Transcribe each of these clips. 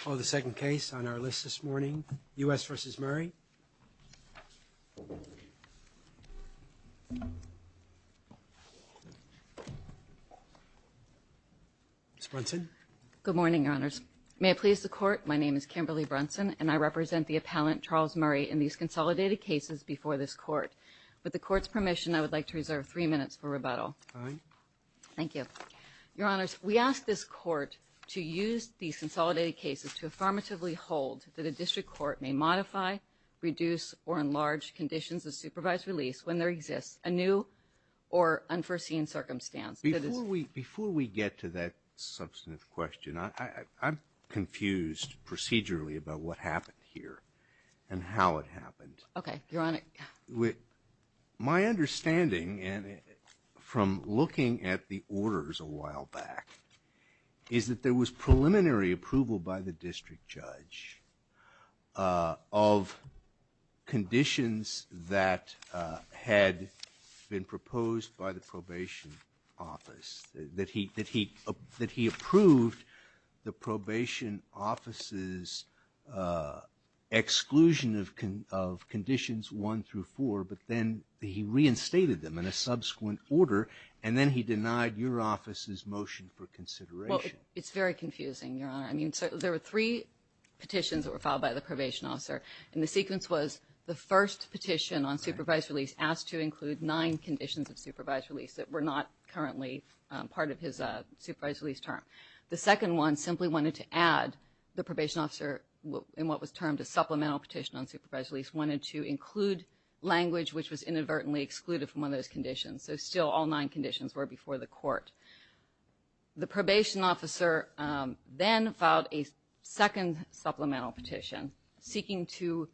I call the second case on our list this morning, U.S. v. Murray, Ms. Brunson. Good morning, Your Honors. May it please the Court, my name is Kimberly Brunson, and I represent the appellant Charles Murray in these consolidated cases before this Court. With the Court's permission, I would like to reserve three minutes for rebuttal. Fine. Thank you. Your Honors, we ask this Court to use these consolidated cases to affirmatively hold that a district court may modify, reduce, or enlarge conditions of supervised release when there exists a new or unforeseen circumstance. Before we get to that substantive question, I'm confused procedurally about what happened here and how it happened. Okay, Your Honor. My understanding from looking at the orders a while back is that there was preliminary approval by the district judge of conditions that had been proposed by the probation office, that he approved the probation office's exclusion of conditions 1 through 4, but then he reinstated them in a subsequent order, and then he denied your office's motion for consideration. Well, it's very confusing, Your Honor. I mean, there were three petitions that were filed by the probation officer, and the sequence was the first petition on supervised release asked to include nine conditions of supervised release that were not currently part of his supervised release term. The second one simply wanted to add the probation officer in what was termed a supplemental petition on supervised release, wanted to include language which was inadvertently excluded from one of those conditions. So still, all nine conditions were before the court. The probation officer then filed a second supplemental petition seeking to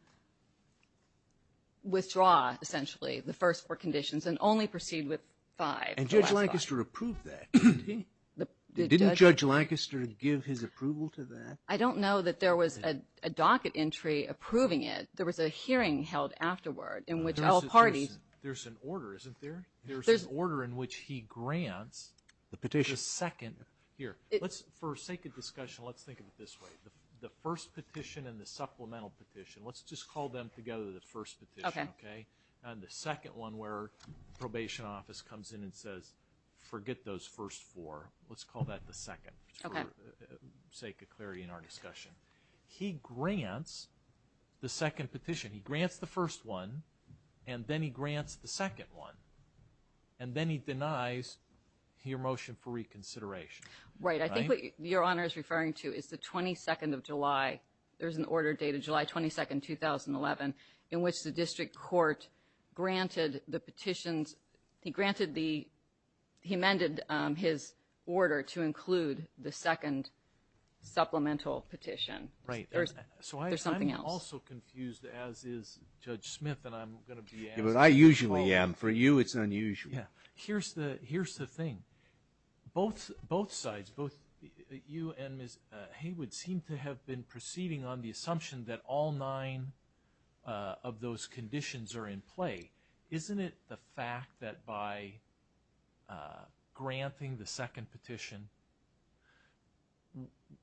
withdraw, essentially, the first four conditions and only proceed with five. And Judge Lancaster approved that, didn't he? Didn't Judge Lancaster give his approval to that? I don't know that there was a docket entry approving it. There was a hearing held afterward in which all parties... There's an order, isn't there? There's an order in which he grants the petition's second... Here, for sake of discussion, let's think of it this way. The first petition and the supplemental petition, let's just call them together, the first petition, okay? And the second one where the probation office comes in and says, forget those first four, let's call that the second, for sake of clarity in our discussion. He grants the second petition, he grants the first one, and then he grants the second one, and then he denies your motion for reconsideration, right? Right. I think what Your Honor is referring to is the 22nd of July. There's an order dated July 22nd, 2011, in which the district court granted the petitions... He granted the... He amended his order to include the second supplemental petition. There's something else. So I'm also confused, as is Judge Smith, and I'm going to be asked... I usually am. For you, it's unusual. Here's the thing. Both sides, both you and Ms. Haywood, seem to have been proceeding on the assumption that all nine of those conditions are in play. Isn't it the fact that by granting the second petition,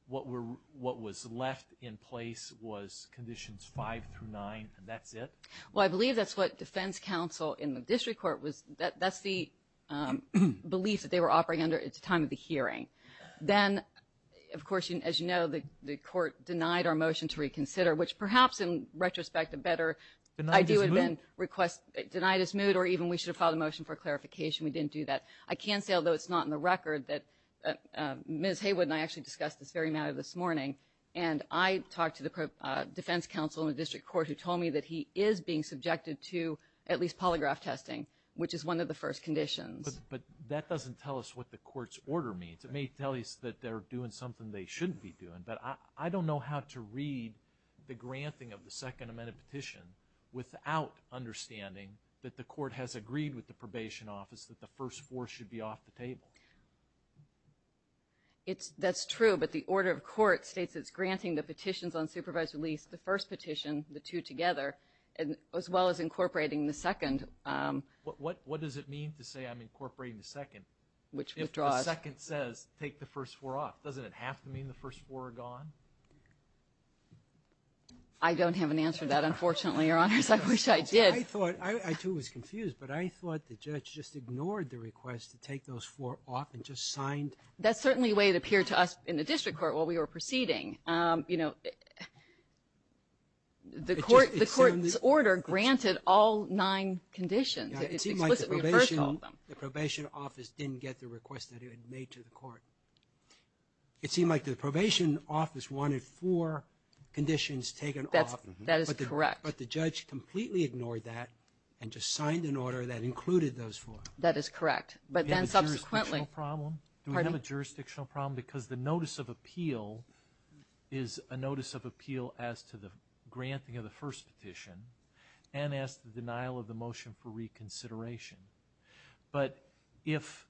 what was left in place was conditions five through nine, and that's it? Well, I believe that's what defense counsel in the district court was... That's the piece that they were operating under at the time of the hearing. Then, of course, as you know, the court denied our motion to reconsider, which perhaps in retrospect a better idea would have been request... Denied his mood? Denied his mood, or even we should have filed a motion for clarification. We didn't do that. I can say, although it's not in the record, that Ms. Haywood and I actually discussed this very matter this morning, and I talked to the defense counsel in the district court who told me that he is being subjected to at least polygraph testing, which is one of the first conditions. But that doesn't tell us what the court's order means. It may tell us that they're doing something they shouldn't be doing, but I don't know how to read the granting of the second amended petition without understanding that the court has agreed with the probation office that the first four should be off the table. That's true, but the order of court states it's granting the petitions on supervised release, the first petition, the two together, as well as incorporating the second. What does it mean to say I'm incorporating the second? Which withdraws. If the second says, take the first four off, doesn't it have to mean the first four are gone? I don't have an answer to that, unfortunately, Your Honors. I wish I did. I thought, I too was confused, but I thought the judge just ignored the request to take those four off and just signed. That's certainly the way it appeared to us in the district court while we were proceeding. You know, the court's order granted all nine conditions. It's explicitly referred to all of them. It seemed like the probation office didn't get the request that it had made to the court. It seemed like the probation office wanted four conditions taken off. That is correct. But the judge completely ignored that and just signed an order that included those four. That is correct. But then subsequently. Do we have a jurisdictional problem? Pardon me? Is a notice of appeal as to the granting of the first petition and as to the denial of the motion for reconsideration. But if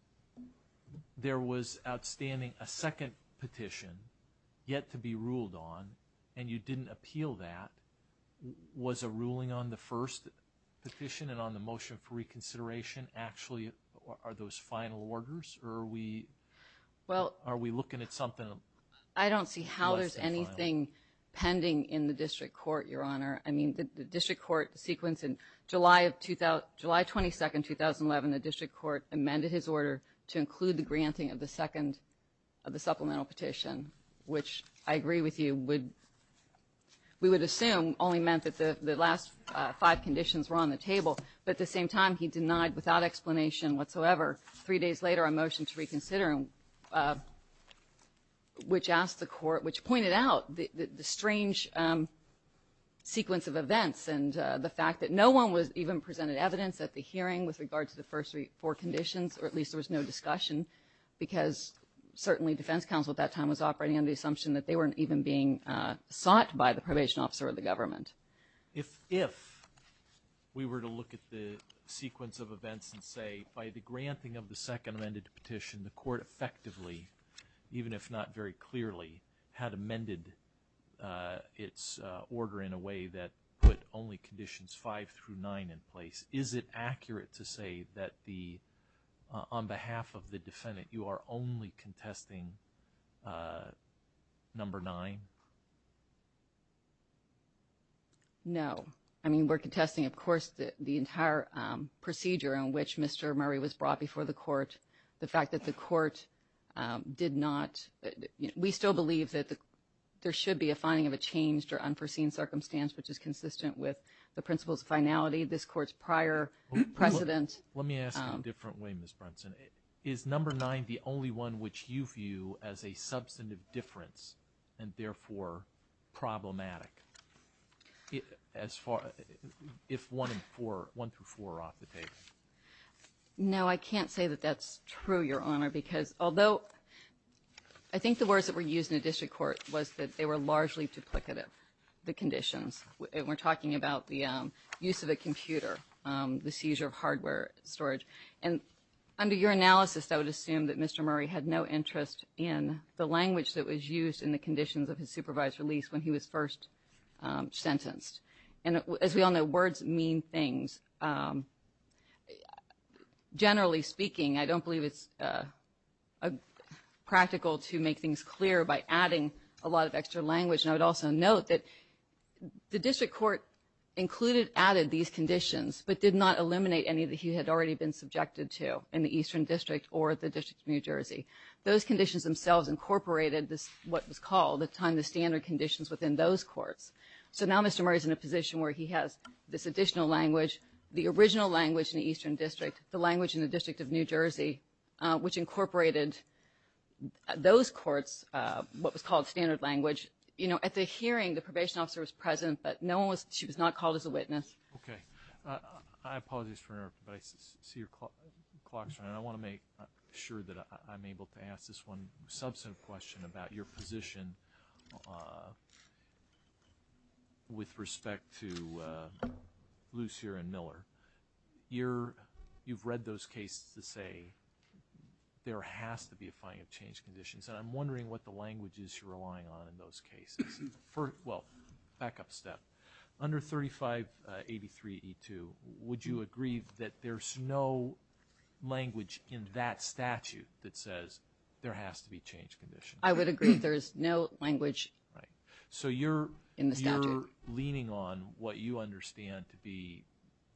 there was outstanding a second petition yet to be ruled on and you didn't appeal that, was a ruling on the first petition and on the motion for reconsideration actually are those final orders or are we looking at something? I don't see how there's anything pending in the district court, Your Honor. I mean, the district court sequence in July of July 22nd, 2011, the district court amended his order to include the granting of the second of the supplemental petition, which I agree with you would we would assume only meant that the last five conditions were on the table. But at the same time, he denied without explanation whatsoever. Three days later, a motion to reconsider, which asked the court, which pointed out the strange sequence of events and the fact that no one was even presented evidence at the hearing with regard to the first three or four conditions, or at least there was no discussion because certainly defense counsel at that time was operating on the assumption that they weren't even being sought by the probation officer of the government. If if we were to look at the sequence of events and say by the granting of the second amended petition, the court effectively, even if not very clearly, had amended its order in a way that put only conditions five through nine in place. Is it accurate to say that the on behalf of the defendant, you are only contesting number nine? No, I mean, we're contesting, of course, the entire procedure in which Mr. Murray was brought before the court, the fact that the court did not we still believe that there should be a finding of a changed or unforeseen circumstance, which is consistent with the principles of finality. This court's prior president. Let me ask a different way. Ms. Brunson, is number nine the only one which you view as a substantive difference and therefore problematic? As far as if one and four, one through four, are off the table? No, I can't say that that's true, Your Honor, because although I think the words that were used in the district court was that they were largely duplicative, the conditions. We're talking about the use of a computer, the seizure of hardware storage. And under your analysis, I would assume that Mr. Murray had no interest in the language that was used in the conditions of his supervised release when he was first sentenced. And as we all know, words mean things. Generally speaking, I don't believe it's practical to make things clear by adding a lot of extra language. And I would also note that the district court included, added these conditions, but did not eliminate any that he had already been subjected to in the Eastern District or the District of New Jersey. Those conditions themselves incorporated what was called at the time the standard conditions within those courts. So now Mr. Murray is in a position where he has this additional language, the original language in the Eastern District, the language in the District of New Jersey, which incorporated those courts, what was called standard language. You know, at the hearing, the probation officer was present, but no one was, she was not called as a witness. Okay. I apologize for interruption, but I see your clock's running. I want to make sure that I'm able to ask this one substantive question about your position with respect to Lucier and Miller. You've read those cases that say there has to be a filing of change conditions, and I'm wondering what the language is you're relying on in those cases. Well, back up a step. Under 3583E2, would you agree that there's no language in that statute that says there has to be change conditions? I would agree there's no language in the statute. So you're leaning on what you understand to be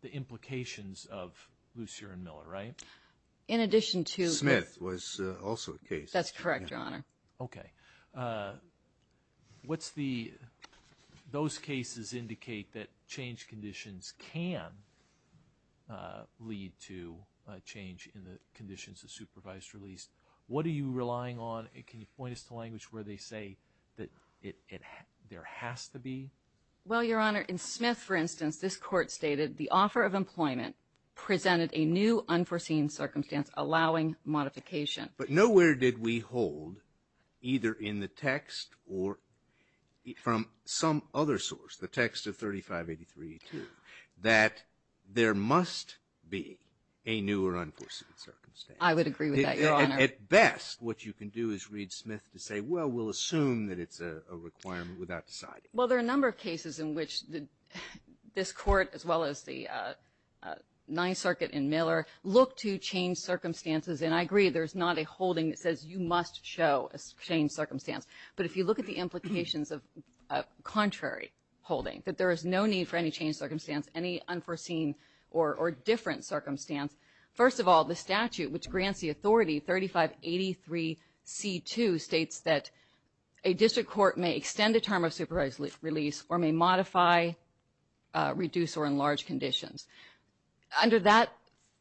the implications of Lucier and Miller, right? In addition to... Smith was also a case. That's correct, Your Honor. Okay. What's the... Those cases indicate that change conditions can lead to a change in the conditions of supervised release. What are you relying on? Can you point us to language where they say that there has to be? Well, Your Honor, in Smith, for instance, this court stated the offer of employment presented a new unforeseen circumstance allowing modification. But nowhere did we hold, either in the text or from some other source, the text of 3583E2, that there must be a new or unforeseen circumstance. I would agree with that, Your Honor. At best, what you can do is read Smith to say, well, we'll assume that it's a requirement without deciding. Well, there are a number of cases in which this court, as well as the Ninth Circuit and Miller, look to change circumstances. And I agree there's not a holding that says you must show a change circumstance. But if you look at the implications of contrary holding, that there is no need for any change circumstance, any unforeseen or different circumstance, first of all, the statute, which grants the authority, 3583C2, states that a district court may extend a term of supervised release or may modify, reduce, or enlarge conditions. Under that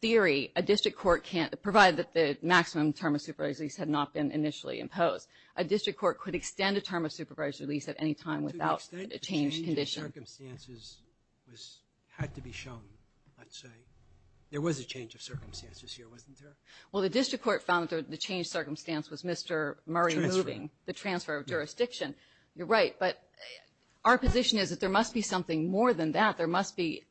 theory, a district court can't, provided that the maximum term of supervised release had not been initially imposed, a district court could extend a term of supervised release at any time without a change condition. To an extent, the change of circumstances had to be shown, let's say. There was a change of circumstances here, wasn't there? Well, the district court found that the change of circumstance was Mr. Murray moving. The transfer of jurisdiction. You're right, but our position is that there must be something more than that. There must be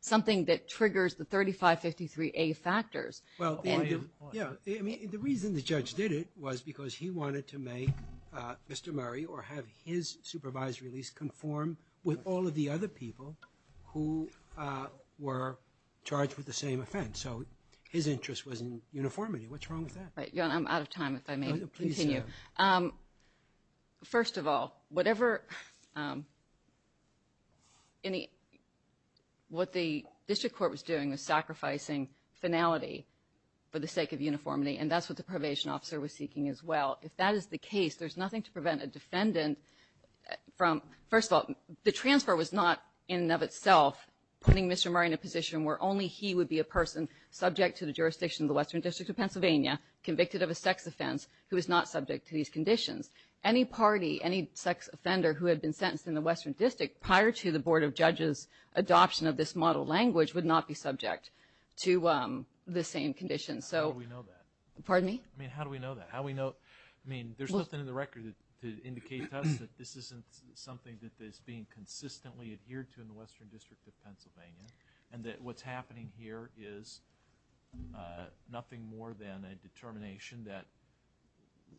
something that triggers the 3553A factors. Well, yeah, I mean, the reason the judge did it was because he wanted to make Mr. Murray or have his supervised release conform with all of the other people who were charged with the same offense. So his interest was in uniformity. What's wrong with that? Right. I'm out of time, if I may continue. Please go ahead. First of all, whatever any, what the district court was doing was sacrificing finality for the sake of uniformity, and that's what the probation officer was seeking as well. If that is the case, there's nothing to prevent a defendant from, first of all, the transfer was not in and of itself putting Mr. Murray in a position where only he would be a person subject to the jurisdiction of the Western District of Pennsylvania, convicted of a sex offense, who is not subject to these conditions. Any party, any sex offender who had been sentenced in the Western District prior to the Board of Judges' adoption of this model language would not be subject to the same conditions. How do we know that? Pardon me? I mean, how do we know that? How do we know? I mean, there's nothing in the record that indicates to us that this isn't something that is being consistently adhered to in the Western District of Pennsylvania, and that what's happening here is nothing more than a determination that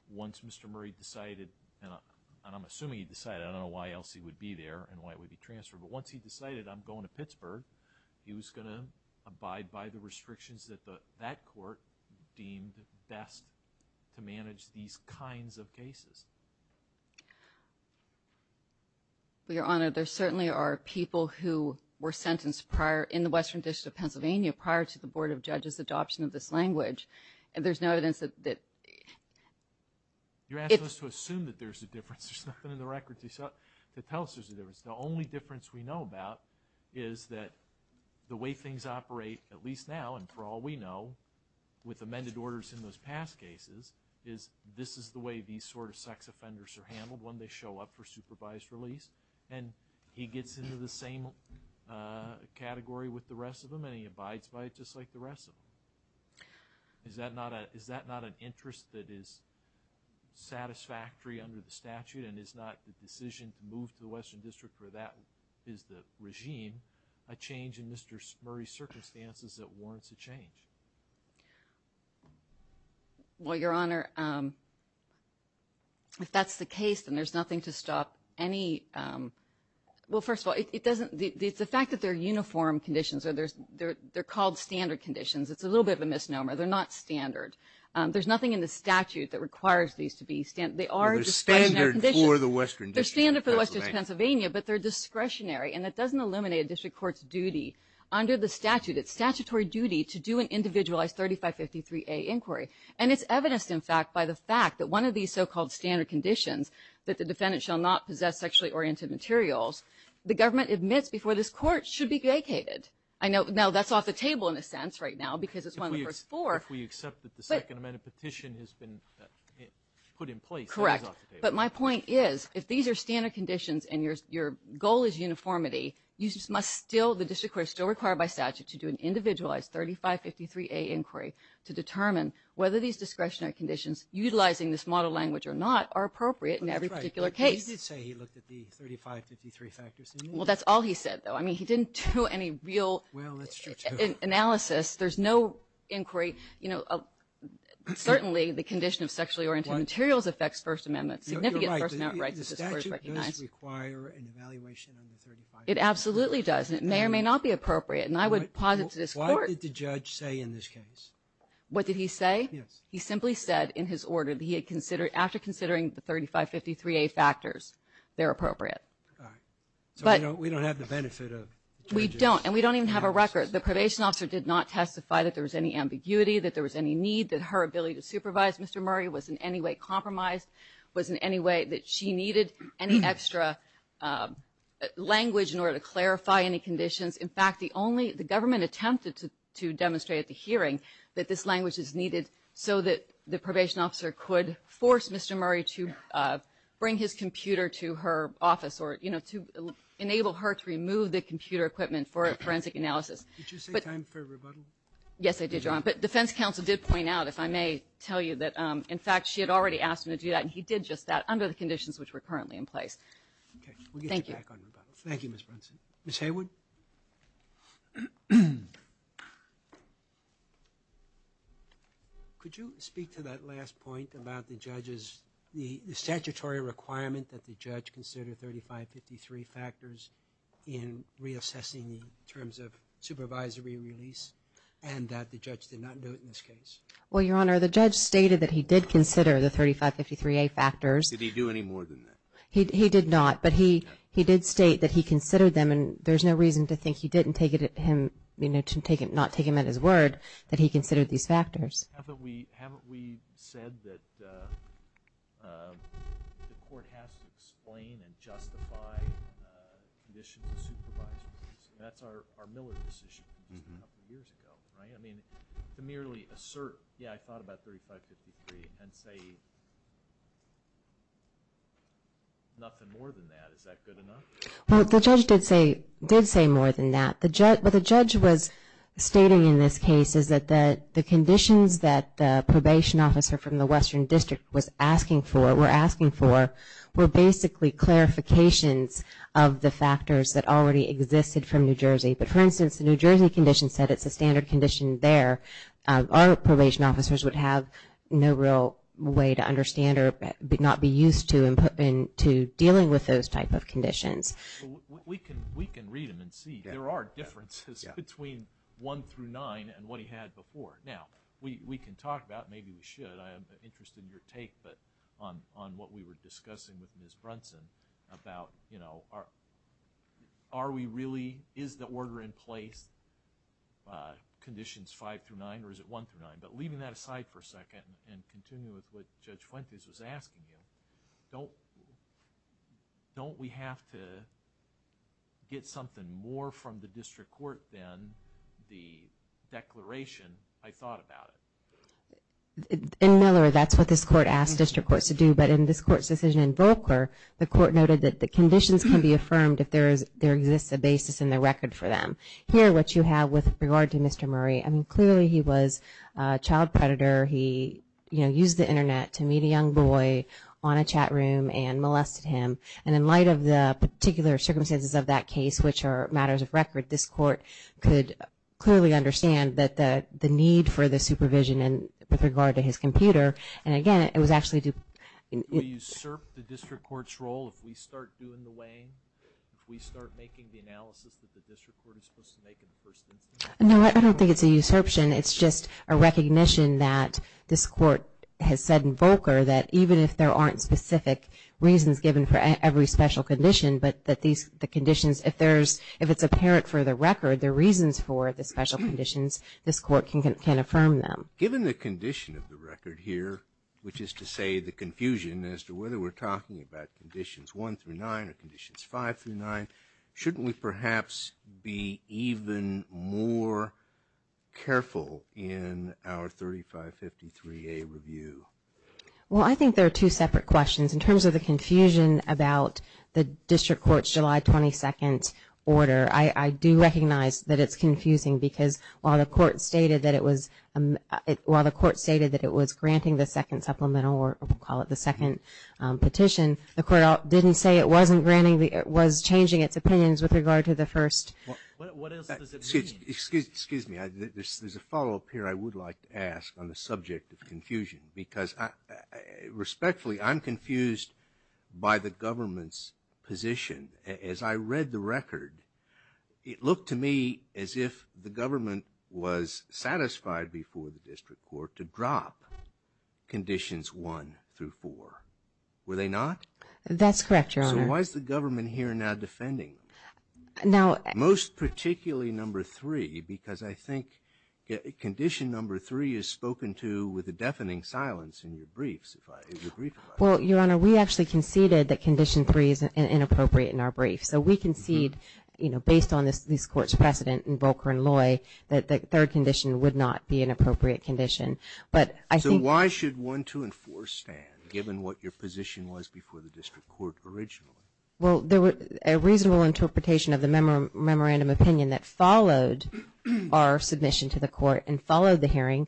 once Mr. Murray decided, and I'm assuming he decided, I don't know why else he would be there and why it would be transferred, but once he decided, I'm going to Pittsburgh, he was going to abide by the kinds of cases. Well, Your Honor, there certainly are people who were sentenced prior, in the Western District of Pennsylvania, prior to the Board of Judges' adoption of this language, and there's no evidence that... You're asking us to assume that there's a difference. There's nothing in the record to tell us there's a difference. The only difference we know about is that the way things operate, at least now and for all we know, with amended orders in those past cases, is this is the way these sort of sex offenders are handled when they show up for supervised release, and he gets into the same category with the rest of them and he abides by it just like the rest of them. Is that not an interest that is satisfactory under the statute and is not the decision to move to the Western District where that is the regime, a change in Mr. Murray's circumstances that warrants a change? Well, Your Honor, if that's the case, then there's nothing to stop any... Well, first of all, it's the fact that they're uniform conditions, they're called standard conditions. It's a little bit of a misnomer. They're not standard. There's nothing in the statute that requires these to be standard. They are described in their conditions. They're standard for the Western District of Pennsylvania. They're standard for the Western District of Pennsylvania, but they're discretionary, and that doesn't eliminate a district court's duty. Under the statute, it's statutory duty to do an individualized 3553A inquiry, and it's evidenced, in fact, by the fact that one of these so-called standard conditions, that the defendant shall not possess sexually oriented materials, the government admits before this court should be vacated. Now, that's off the table in a sense right now because it's one of the first four. If we accept that the second amendment petition has been put in place, that is off the table. Correct, but my point is, if these are standard conditions and your goal is uniformity, you must still, the district court is still required by statute to do an individualized 3553A inquiry to determine whether these discretionary conditions, utilizing this model language or not, are appropriate in every particular case. That's right, but you did say he looked at the 3553 factors. Well, that's all he said, though. I mean, he didn't do any real analysis. Well, that's true, too. There's no inquiry. You know, certainly the condition of sexually oriented materials affects First Amendment. You're right. The statute does require an evaluation under 3553A. It absolutely does, and it may or may not be appropriate, and I would posit to this court Why did the judge say in this case? What did he say? Yes. He simply said, in his order, that he had considered, after considering the 3553A factors, they're appropriate. All right. So we don't have the benefit of judges. We don't, and we don't even have a record. The probation officer did not testify that there was any ambiguity, that there was any need, that her ability to supervise Mr. Murray was in any way compromised, was in any way that she In fact, the only, the government attempted to demonstrate at the hearing that this language is needed so that the probation officer could force Mr. Murray to bring his computer to her office or, you know, to enable her to remove the computer equipment for a forensic analysis. Did you say time for a rebuttal? Yes, I did, Your Honor. But defense counsel did point out, if I may tell you, that, in fact, she had already asked him to do that, and he did just that under the conditions which were currently in place. Okay. We'll get you back on rebuttals. Thank you, Ms. Brunson. Ms. Haywood? Could you speak to that last point about the judge's, the statutory requirement that the judge consider 3553A factors in reassessing the terms of supervisory release and that the judge did not do it in this case? Well, Your Honor, the judge stated that he did consider the 3553A factors. Did he do any more than that? No, he did not. But he did state that he considered them, and there's no reason to think he didn't take it at him, you know, to not take him at his word that he considered these factors. Haven't we said that the court has to explain and justify conditions of supervisory release? That's our Miller decision just a couple of years ago, right? I mean, to merely assert, yeah, I thought about 3553 and say nothing more than that, is that good enough? Well, the judge did say more than that. What the judge was stating in this case is that the conditions that the probation officer from the Western District was asking for, were asking for, were basically clarifications of the factors that already existed from New Jersey. But for instance, the New Jersey condition said it's a standard condition there. Our probation officers would have no real way to understand or would not be used to in dealing with those type of conditions. We can read them and see. There are differences between 1 through 9 and what he had before. Now, we can talk about, maybe we should, I'm interested in your take on what we were discussing with Ms. Brunson about, you know, are we really, is the order in place, conditions 5 through 9, or is it 1 through 9? But leaving that aside for a second and continuing with what Judge Fuentes was asking you, don't we have to get something more from the district court than the declaration, I thought about it? In Miller, that's what this court asked district courts to do, but in this court's decision in Volcker, the court noted that the conditions can be affirmed if there exists a basis in the record for them. Here, what you have with regard to Mr. Murray, I mean, clearly he was a child predator. He, you know, used the internet to meet a young boy on a chat room and molested him. And in light of the particular circumstances of that case, which are matters of record, this court could clearly understand the need for the supervision with regard to his computer. And again, it was actually due... Do we usurp the district court's role if we start doing the weighing? If we start making the analysis that the district court is supposed to make in the first instance? No, I don't think it's a usurption. It's just a recognition that this court has said in Volcker that even if there aren't specific reasons given for every special condition, but that these, the conditions, if there's, if it's apparent for the record, there are reasons for the special conditions, this court can affirm them. Given the condition of the record here, which is to say the confusion as to whether we're talking about conditions 1 through 9 or conditions 5 through 9, shouldn't we perhaps be even more careful in our 3553A review? Well, I think there are two separate questions. In terms of the confusion about the district court's July 22nd order, I do recognize that it's confusing because while the court stated that it was, while the court stated that it was granting the second supplemental, or we'll call it the second petition, the court didn't say it wasn't granting, it was changing its opinions with regard to the first. Excuse me. There's a follow-up here I would like to ask on the subject of confusion because respectfully, I'm confused by the government's position. As I read the record, it looked to me as if the government was satisfied before the district court to drop conditions 1 through 4. Were they not? That's correct, Your Honor. So why is the government here now defending them? Now... Most particularly number 3 because I think condition number 3 is spoken to with a deafening silence in your briefs. Well, Your Honor, we actually conceded that condition 3 is inappropriate in our briefs. So we conceded, you know, based on this court's precedent in Volcker and Loy, that the third condition would not be an appropriate condition. But I think... So why should 1, 2, and 4 stand, given what your position was before the district court originally? Well, a reasonable interpretation of the memorandum opinion that followed our submission to the court and followed the hearing,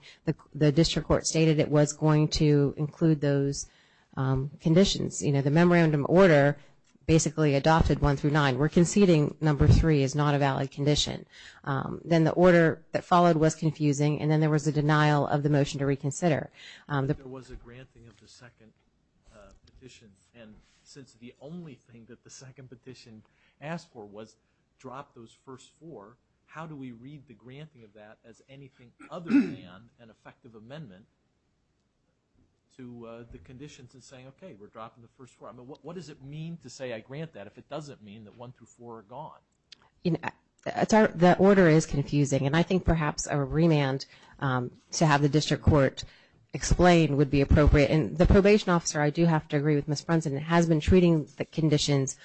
the district court stated it was going to include those conditions. You know, the memorandum order basically adopted 1 through 9. We're conceding number 3 is not a valid condition. Then the order that followed was confusing, and then there was a denial of the motion to reconsider. There was a granting of the second petition, and since the only thing that the second petition asked for was drop those first four, how do we read the granting of that as anything other than an effective amendment to the conditions and saying, okay, we're dropping the first four? I mean, what does it mean to say I grant that if it doesn't mean that 1 through 4 are gone? The order is confusing, and I think perhaps a remand to have the district court explain would be appropriate. And the probation officer, I do have to agree with Ms. Brunson, has been treating the conditions,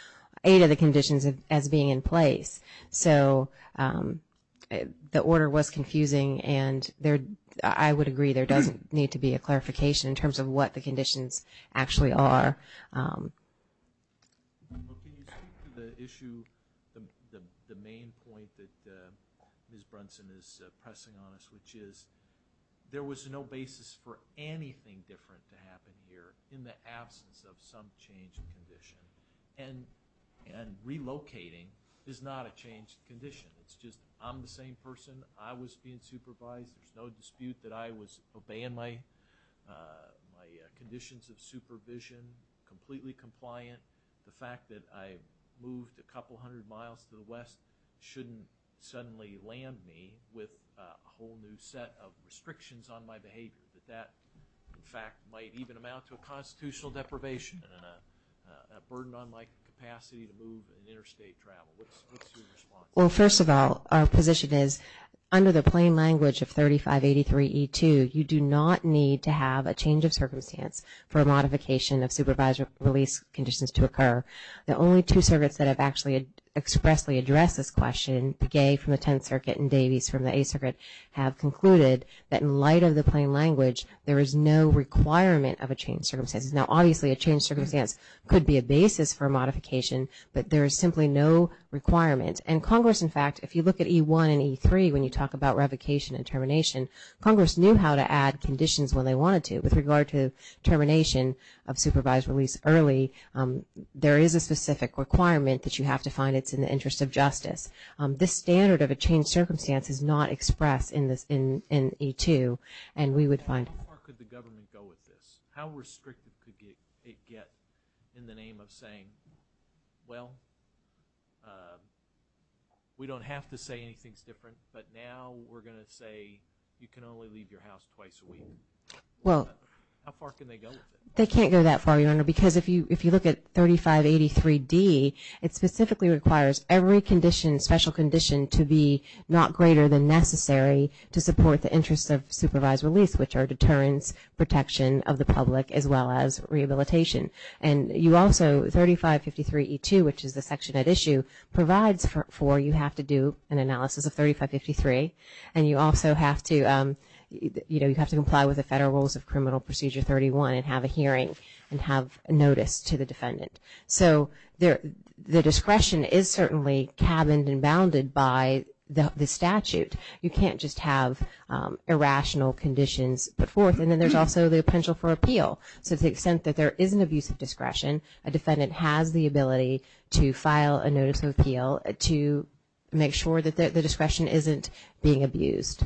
eight of the conditions as being in place. So the order was confusing, and I would agree there doesn't need to be a clarification in terms of what the conditions actually are. Can you speak to the issue, the main point that Ms. Brunson is pressing on us, which is there was no basis for anything different to happen here in the absence of some change in condition. And relocating is not a change in condition. It's just I'm the same person, I was being supervised, there's no dispute that I was obeying my conditions of supervision, completely compliant. The fact that I moved a couple hundred miles to the west shouldn't suddenly land me with a whole new set of restrictions on my behavior, that that, in fact, might even amount to a constitutional deprivation and a burden on my capacity to move and interstate travel. What's your response? Well, first of all, our position is under the plain language of 3583E2, you do not need to have a change of circumstance for a modification of supervisory release conditions to occur. The only two circuits that have actually expressly addressed this question, Pegay from the Tenth Circuit and Davies from the Eighth Circuit have concluded that in light of the plain language there is no requirement of a change of circumstances. Now, obviously, a change of circumstance could be a basis for a modification, but there is simply no requirement. And Congress, in fact, if you look at E1 and E3, when you talk about revocation and termination, Congress knew how to add conditions when they wanted to. With regard to termination of supervised release early, there is a specific requirement that you have to find it's in the interest of justice. This standard of a change of circumstance is not expressed in E2, and we would find... How far could the government go with this? How restrictive could it get in the name of saying, well, we don't have to say anything's different, but now we're going to say you can only leave your house twice a week? How far can they go with it? They can't go that far, Your Honor, because if you look at 3583D, it specifically requires every special condition to be not greater than necessary to support the interest of supervised release, which are deterrence, protection of the public, as well as rehabilitation. And you also, 3553E2, which is the section at issue, provides for you have to do an analysis of 3553, and you also have to comply with the Federal Rules of Criminal Procedure 31 and have a hearing and have notice to the defendant. So the discretion is certainly cabined and bounded by the statute. You can't just have irrational conditions put forth. And then there's also the potential for appeal. So to the extent that there is an abusive discretion, a defendant has the ability to file a notice of appeal to make sure that the discretion isn't being abused.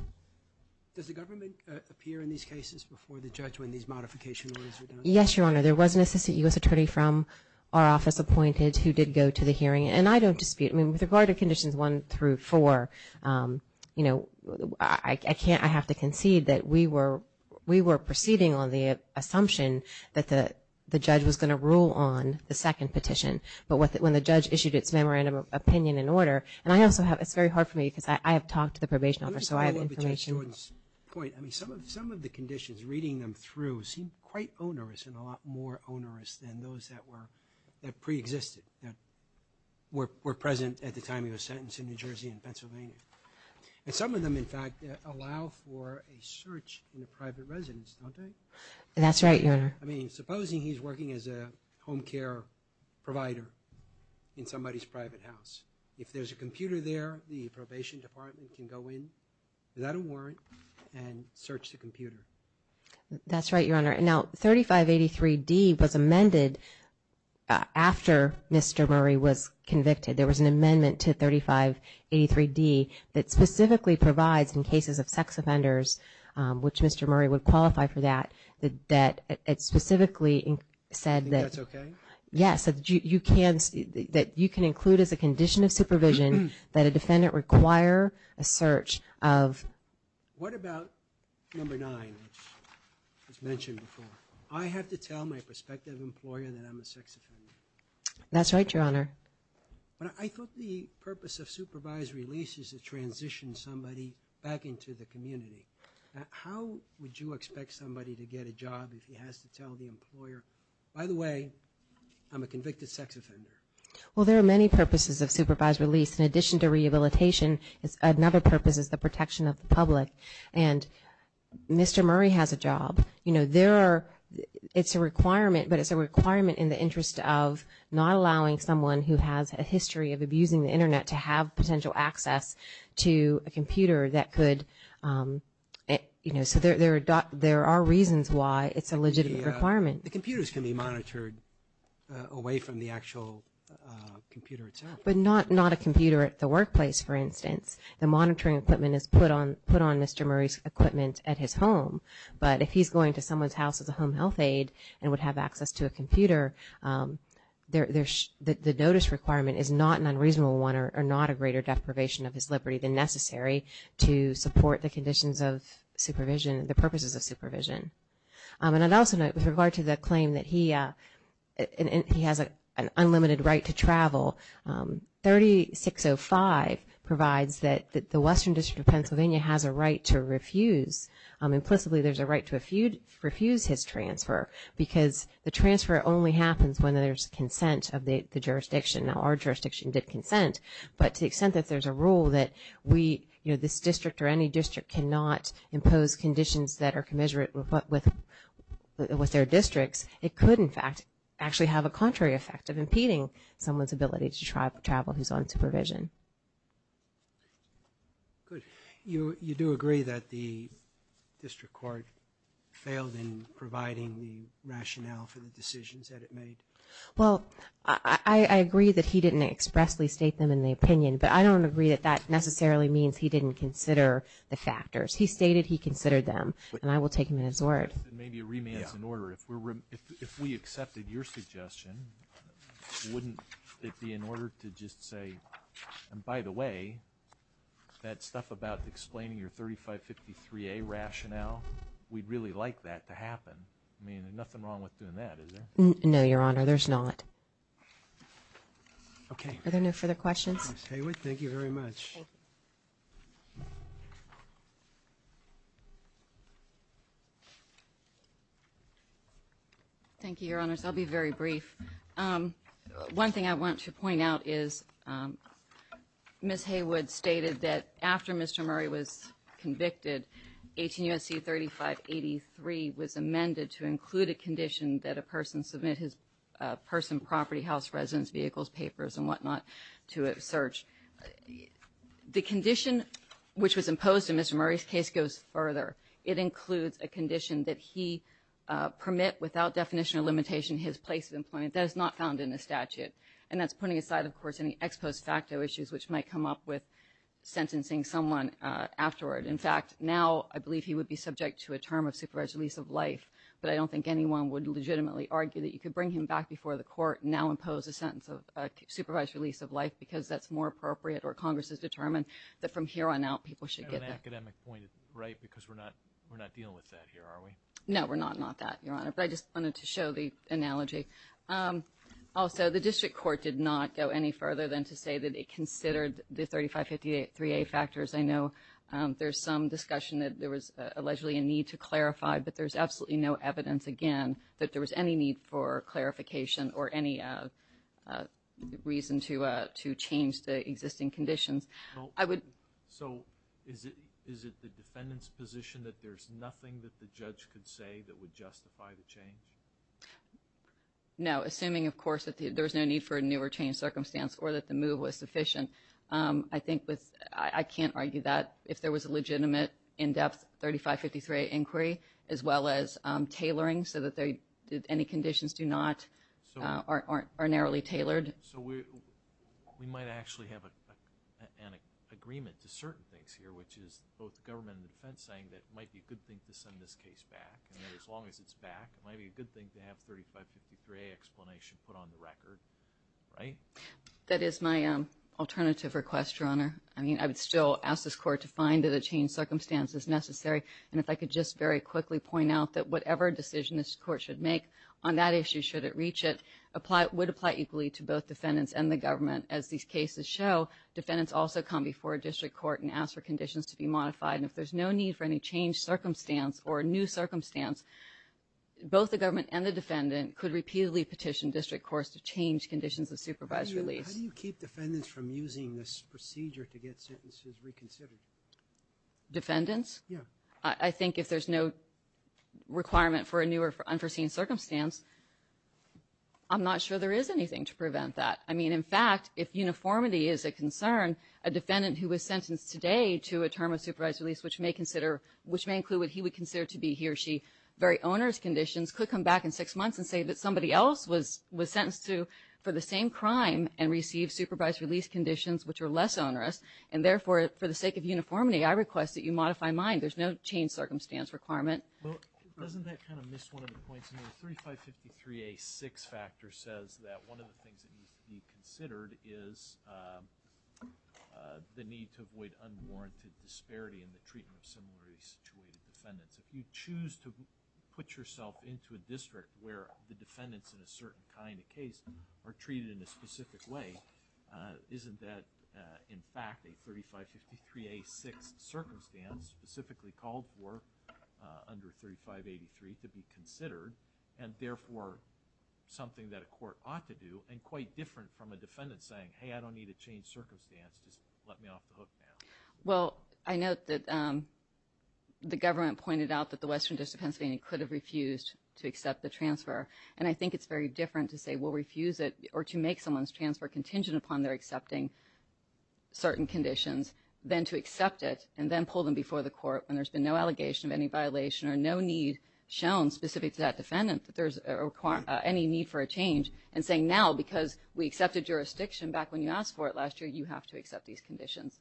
Does the government appear in these cases before the judge when these modification orders are done? Yes, Your Honor. There was an assistant U.S. attorney from our office appointed who did go to the hearing, and I don't dispute. I mean, with regard to conditions 1 through 4, you know, I have to assume that you are proceeding on the assumption that the judge was going to rule on the second petition. But when the judge issued its memorandum of opinion and order, and I also have, it's very hard for me because I have talked to the probation officer, so I have information. Some of the conditions, reading them through, seem quite onerous and a lot more onerous than those that were, that preexisted, that were present at the time he was sentenced in New Jersey and Pennsylvania. And some of them, in fact, allow for a search in a private residence, don't they? That's right, Your Honor. I mean, supposing he's working as a home care provider in somebody's private house. If there's a computer there, the probation department can go in, without a warrant, and search the computer. That's right, Your Honor. Now, 3583D was amended after Mr. Murray was convicted. There was an amendment to 3583D that specifically provides, in cases of sex offenders, which Mr. Murray would qualify for that, that it specifically said that... Yes, that you can include as a condition of supervision that a defendant require a search of... What about number 9, which was mentioned before? I have to tell my prospective employer that I'm a sex offender. That's right, Your Honor. I thought the purpose of supervised release is to transition somebody back into the community. How would you expect somebody to get a job if he has to tell the employer, by the way, I'm a convicted sex offender? Well, there are many purposes of supervised release. In addition to rehabilitation, another purpose is the protection of the public. And Mr. Murray has a job. It's a requirement, but it's a requirement in the interest of not allowing someone who has a history of abusing the internet to have potential access to a computer that could... So there are reasons why it's a legitimate requirement. The computers can be monitored away from the actual computer itself. But not a computer at the workplace, for instance. The monitoring equipment is put on Mr. Murray's equipment at his home. But if he's going to someone's house as a home health aide and would have access to a computer, the notice requirement is not an unreasonable one or not a greater deprivation of his liberty than necessary to support the conditions of supervision, the purposes of supervision. And I'd also note, with regard to the claim that he has an unlimited right to travel, 3605 provides that the Western District of Pennsylvania has a right to refuse. Implicitly, there's a right to refuse his transfer because the transfer only happens when there's consent of the jurisdiction. Now, our jurisdiction did consent, but to the extent that there's a rule that this district or any district cannot impose conditions that are commensurate with their districts, it could in fact actually have a contrary effect of impeding someone's ability to travel who's on supervision. You do agree that the District Court failed in providing the rationale for the decisions that it made? Well, I agree that he didn't expressly state them in the opinion, but I don't agree that that necessarily means he didn't consider the factors. He stated he considered them and I will take him at his word. If we accepted your suggestion, wouldn't it be in order to just say, and by the way, that stuff about explaining your 3553A rationale, we'd really like that to happen. I mean, there's nothing wrong with doing that, is there? No, Your Honor, there's not. Okay. Are there no further questions? Ms. Haywood, thank you very much. Thank you, Your Honors. I'll be very brief. One thing I want to point out is Ms. Haywood stated that after Mr. Murray was convicted, 18 U.S.C. 3583 was amended to include a condition that a person submit his person, property, house, residence, vehicles, papers, and whatnot to a search. The condition which was imposed in Mr. Murray's case goes further. It includes a condition that he permit without definition or limitation his place of employment. That is not found in the statute, and that's putting aside, of course, any ex post facto issues which might come up with afterward. In fact, now, I believe he would be subject to a term of supervised release of life, but I don't think anyone would legitimately argue that you could bring him back before the court and now impose a sentence of supervised release of life because that's more appropriate or Congress has determined that from here on out, people should get that. I have an academic point, right, because we're not dealing with that here, are we? No, we're not, not that, Your Honor, but I just wanted to show the analogy. Also, the district court did not go any further than to say that it considered the there's some discussion that there was allegedly a need to clarify, but there's absolutely no evidence, again, that there was any need for clarification or any reason to change the existing conditions. I would So, is it the defendant's position that there's nothing that the judge could say that would justify the change? No, assuming, of course, that there's no need for a new or changed circumstance or that the move was sufficient. I think with, I can't argue that if there was a legitimate, in-depth, 3553A inquiry, as well as tailoring so that any conditions do not are narrowly tailored. So, we might actually have an agreement to certain things here, which is both the government and the defense saying that it might be a good thing to send this case back, and as long as it's back, it might be a good thing to have 3553A explanation put on the record, right? That is my alternative request, Your Honor. I would still ask this Court to find that a changed circumstance is necessary, and if I could just very quickly point out that whatever decision this Court should make on that issue, should it reach it, would apply equally to both defendants and the government. As these cases show, defendants also come before a district court and ask for conditions to be modified, and if there's no need for any changed circumstance or a new circumstance, both the government and the defendant could repeatedly petition district courts to change conditions of using this procedure to get sentences reconsidered. Defendants? Yeah. I think if there's no requirement for a new or unforeseen circumstance, I'm not sure there is anything to prevent that. I mean, in fact, if uniformity is a concern, a defendant who was sentenced today to a term of supervised release, which may include what he would consider to be he or she very owner's conditions, could come back in six months and say that somebody else was sentenced to for the same crime and receive supervised release conditions which are less onerous, and therefore, for the sake of uniformity, I request that you modify mine. There's no changed circumstance requirement. Well, doesn't that kind of miss one of the points? I mean, 3553A6 factor says that one of the things that needs to be considered is the need to avoid unwarranted disparity in the treatment of similarly situated defendants. If you choose to put yourself into a district where the defendants in a certain kind of case are treated in a specific way, isn't that in fact a 3553A6 circumstance specifically called for under 3583 to be considered and therefore something that a court ought to do and quite different from a defendant saying, hey, I don't need a changed circumstance, just let me off the hook now. Well, I note that the government pointed out that the Western District of Pennsylvania could have refused to accept the transfer and I think it's very different to say we'll refuse it or to make someone's transfer contingent upon their accepting certain conditions than to accept it and then pull them before the court when there's been no allegation of any violation or no need shown specific to that defendant that there's any need for a change and saying now because we accepted jurisdiction back when you asked for it last year, you have to accept these conditions.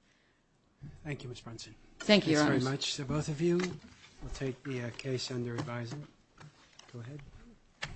Thank you, Ms. Brunson. Thank you, Your Honors. Thanks very much. So both of you will take the case under advisory. Go ahead.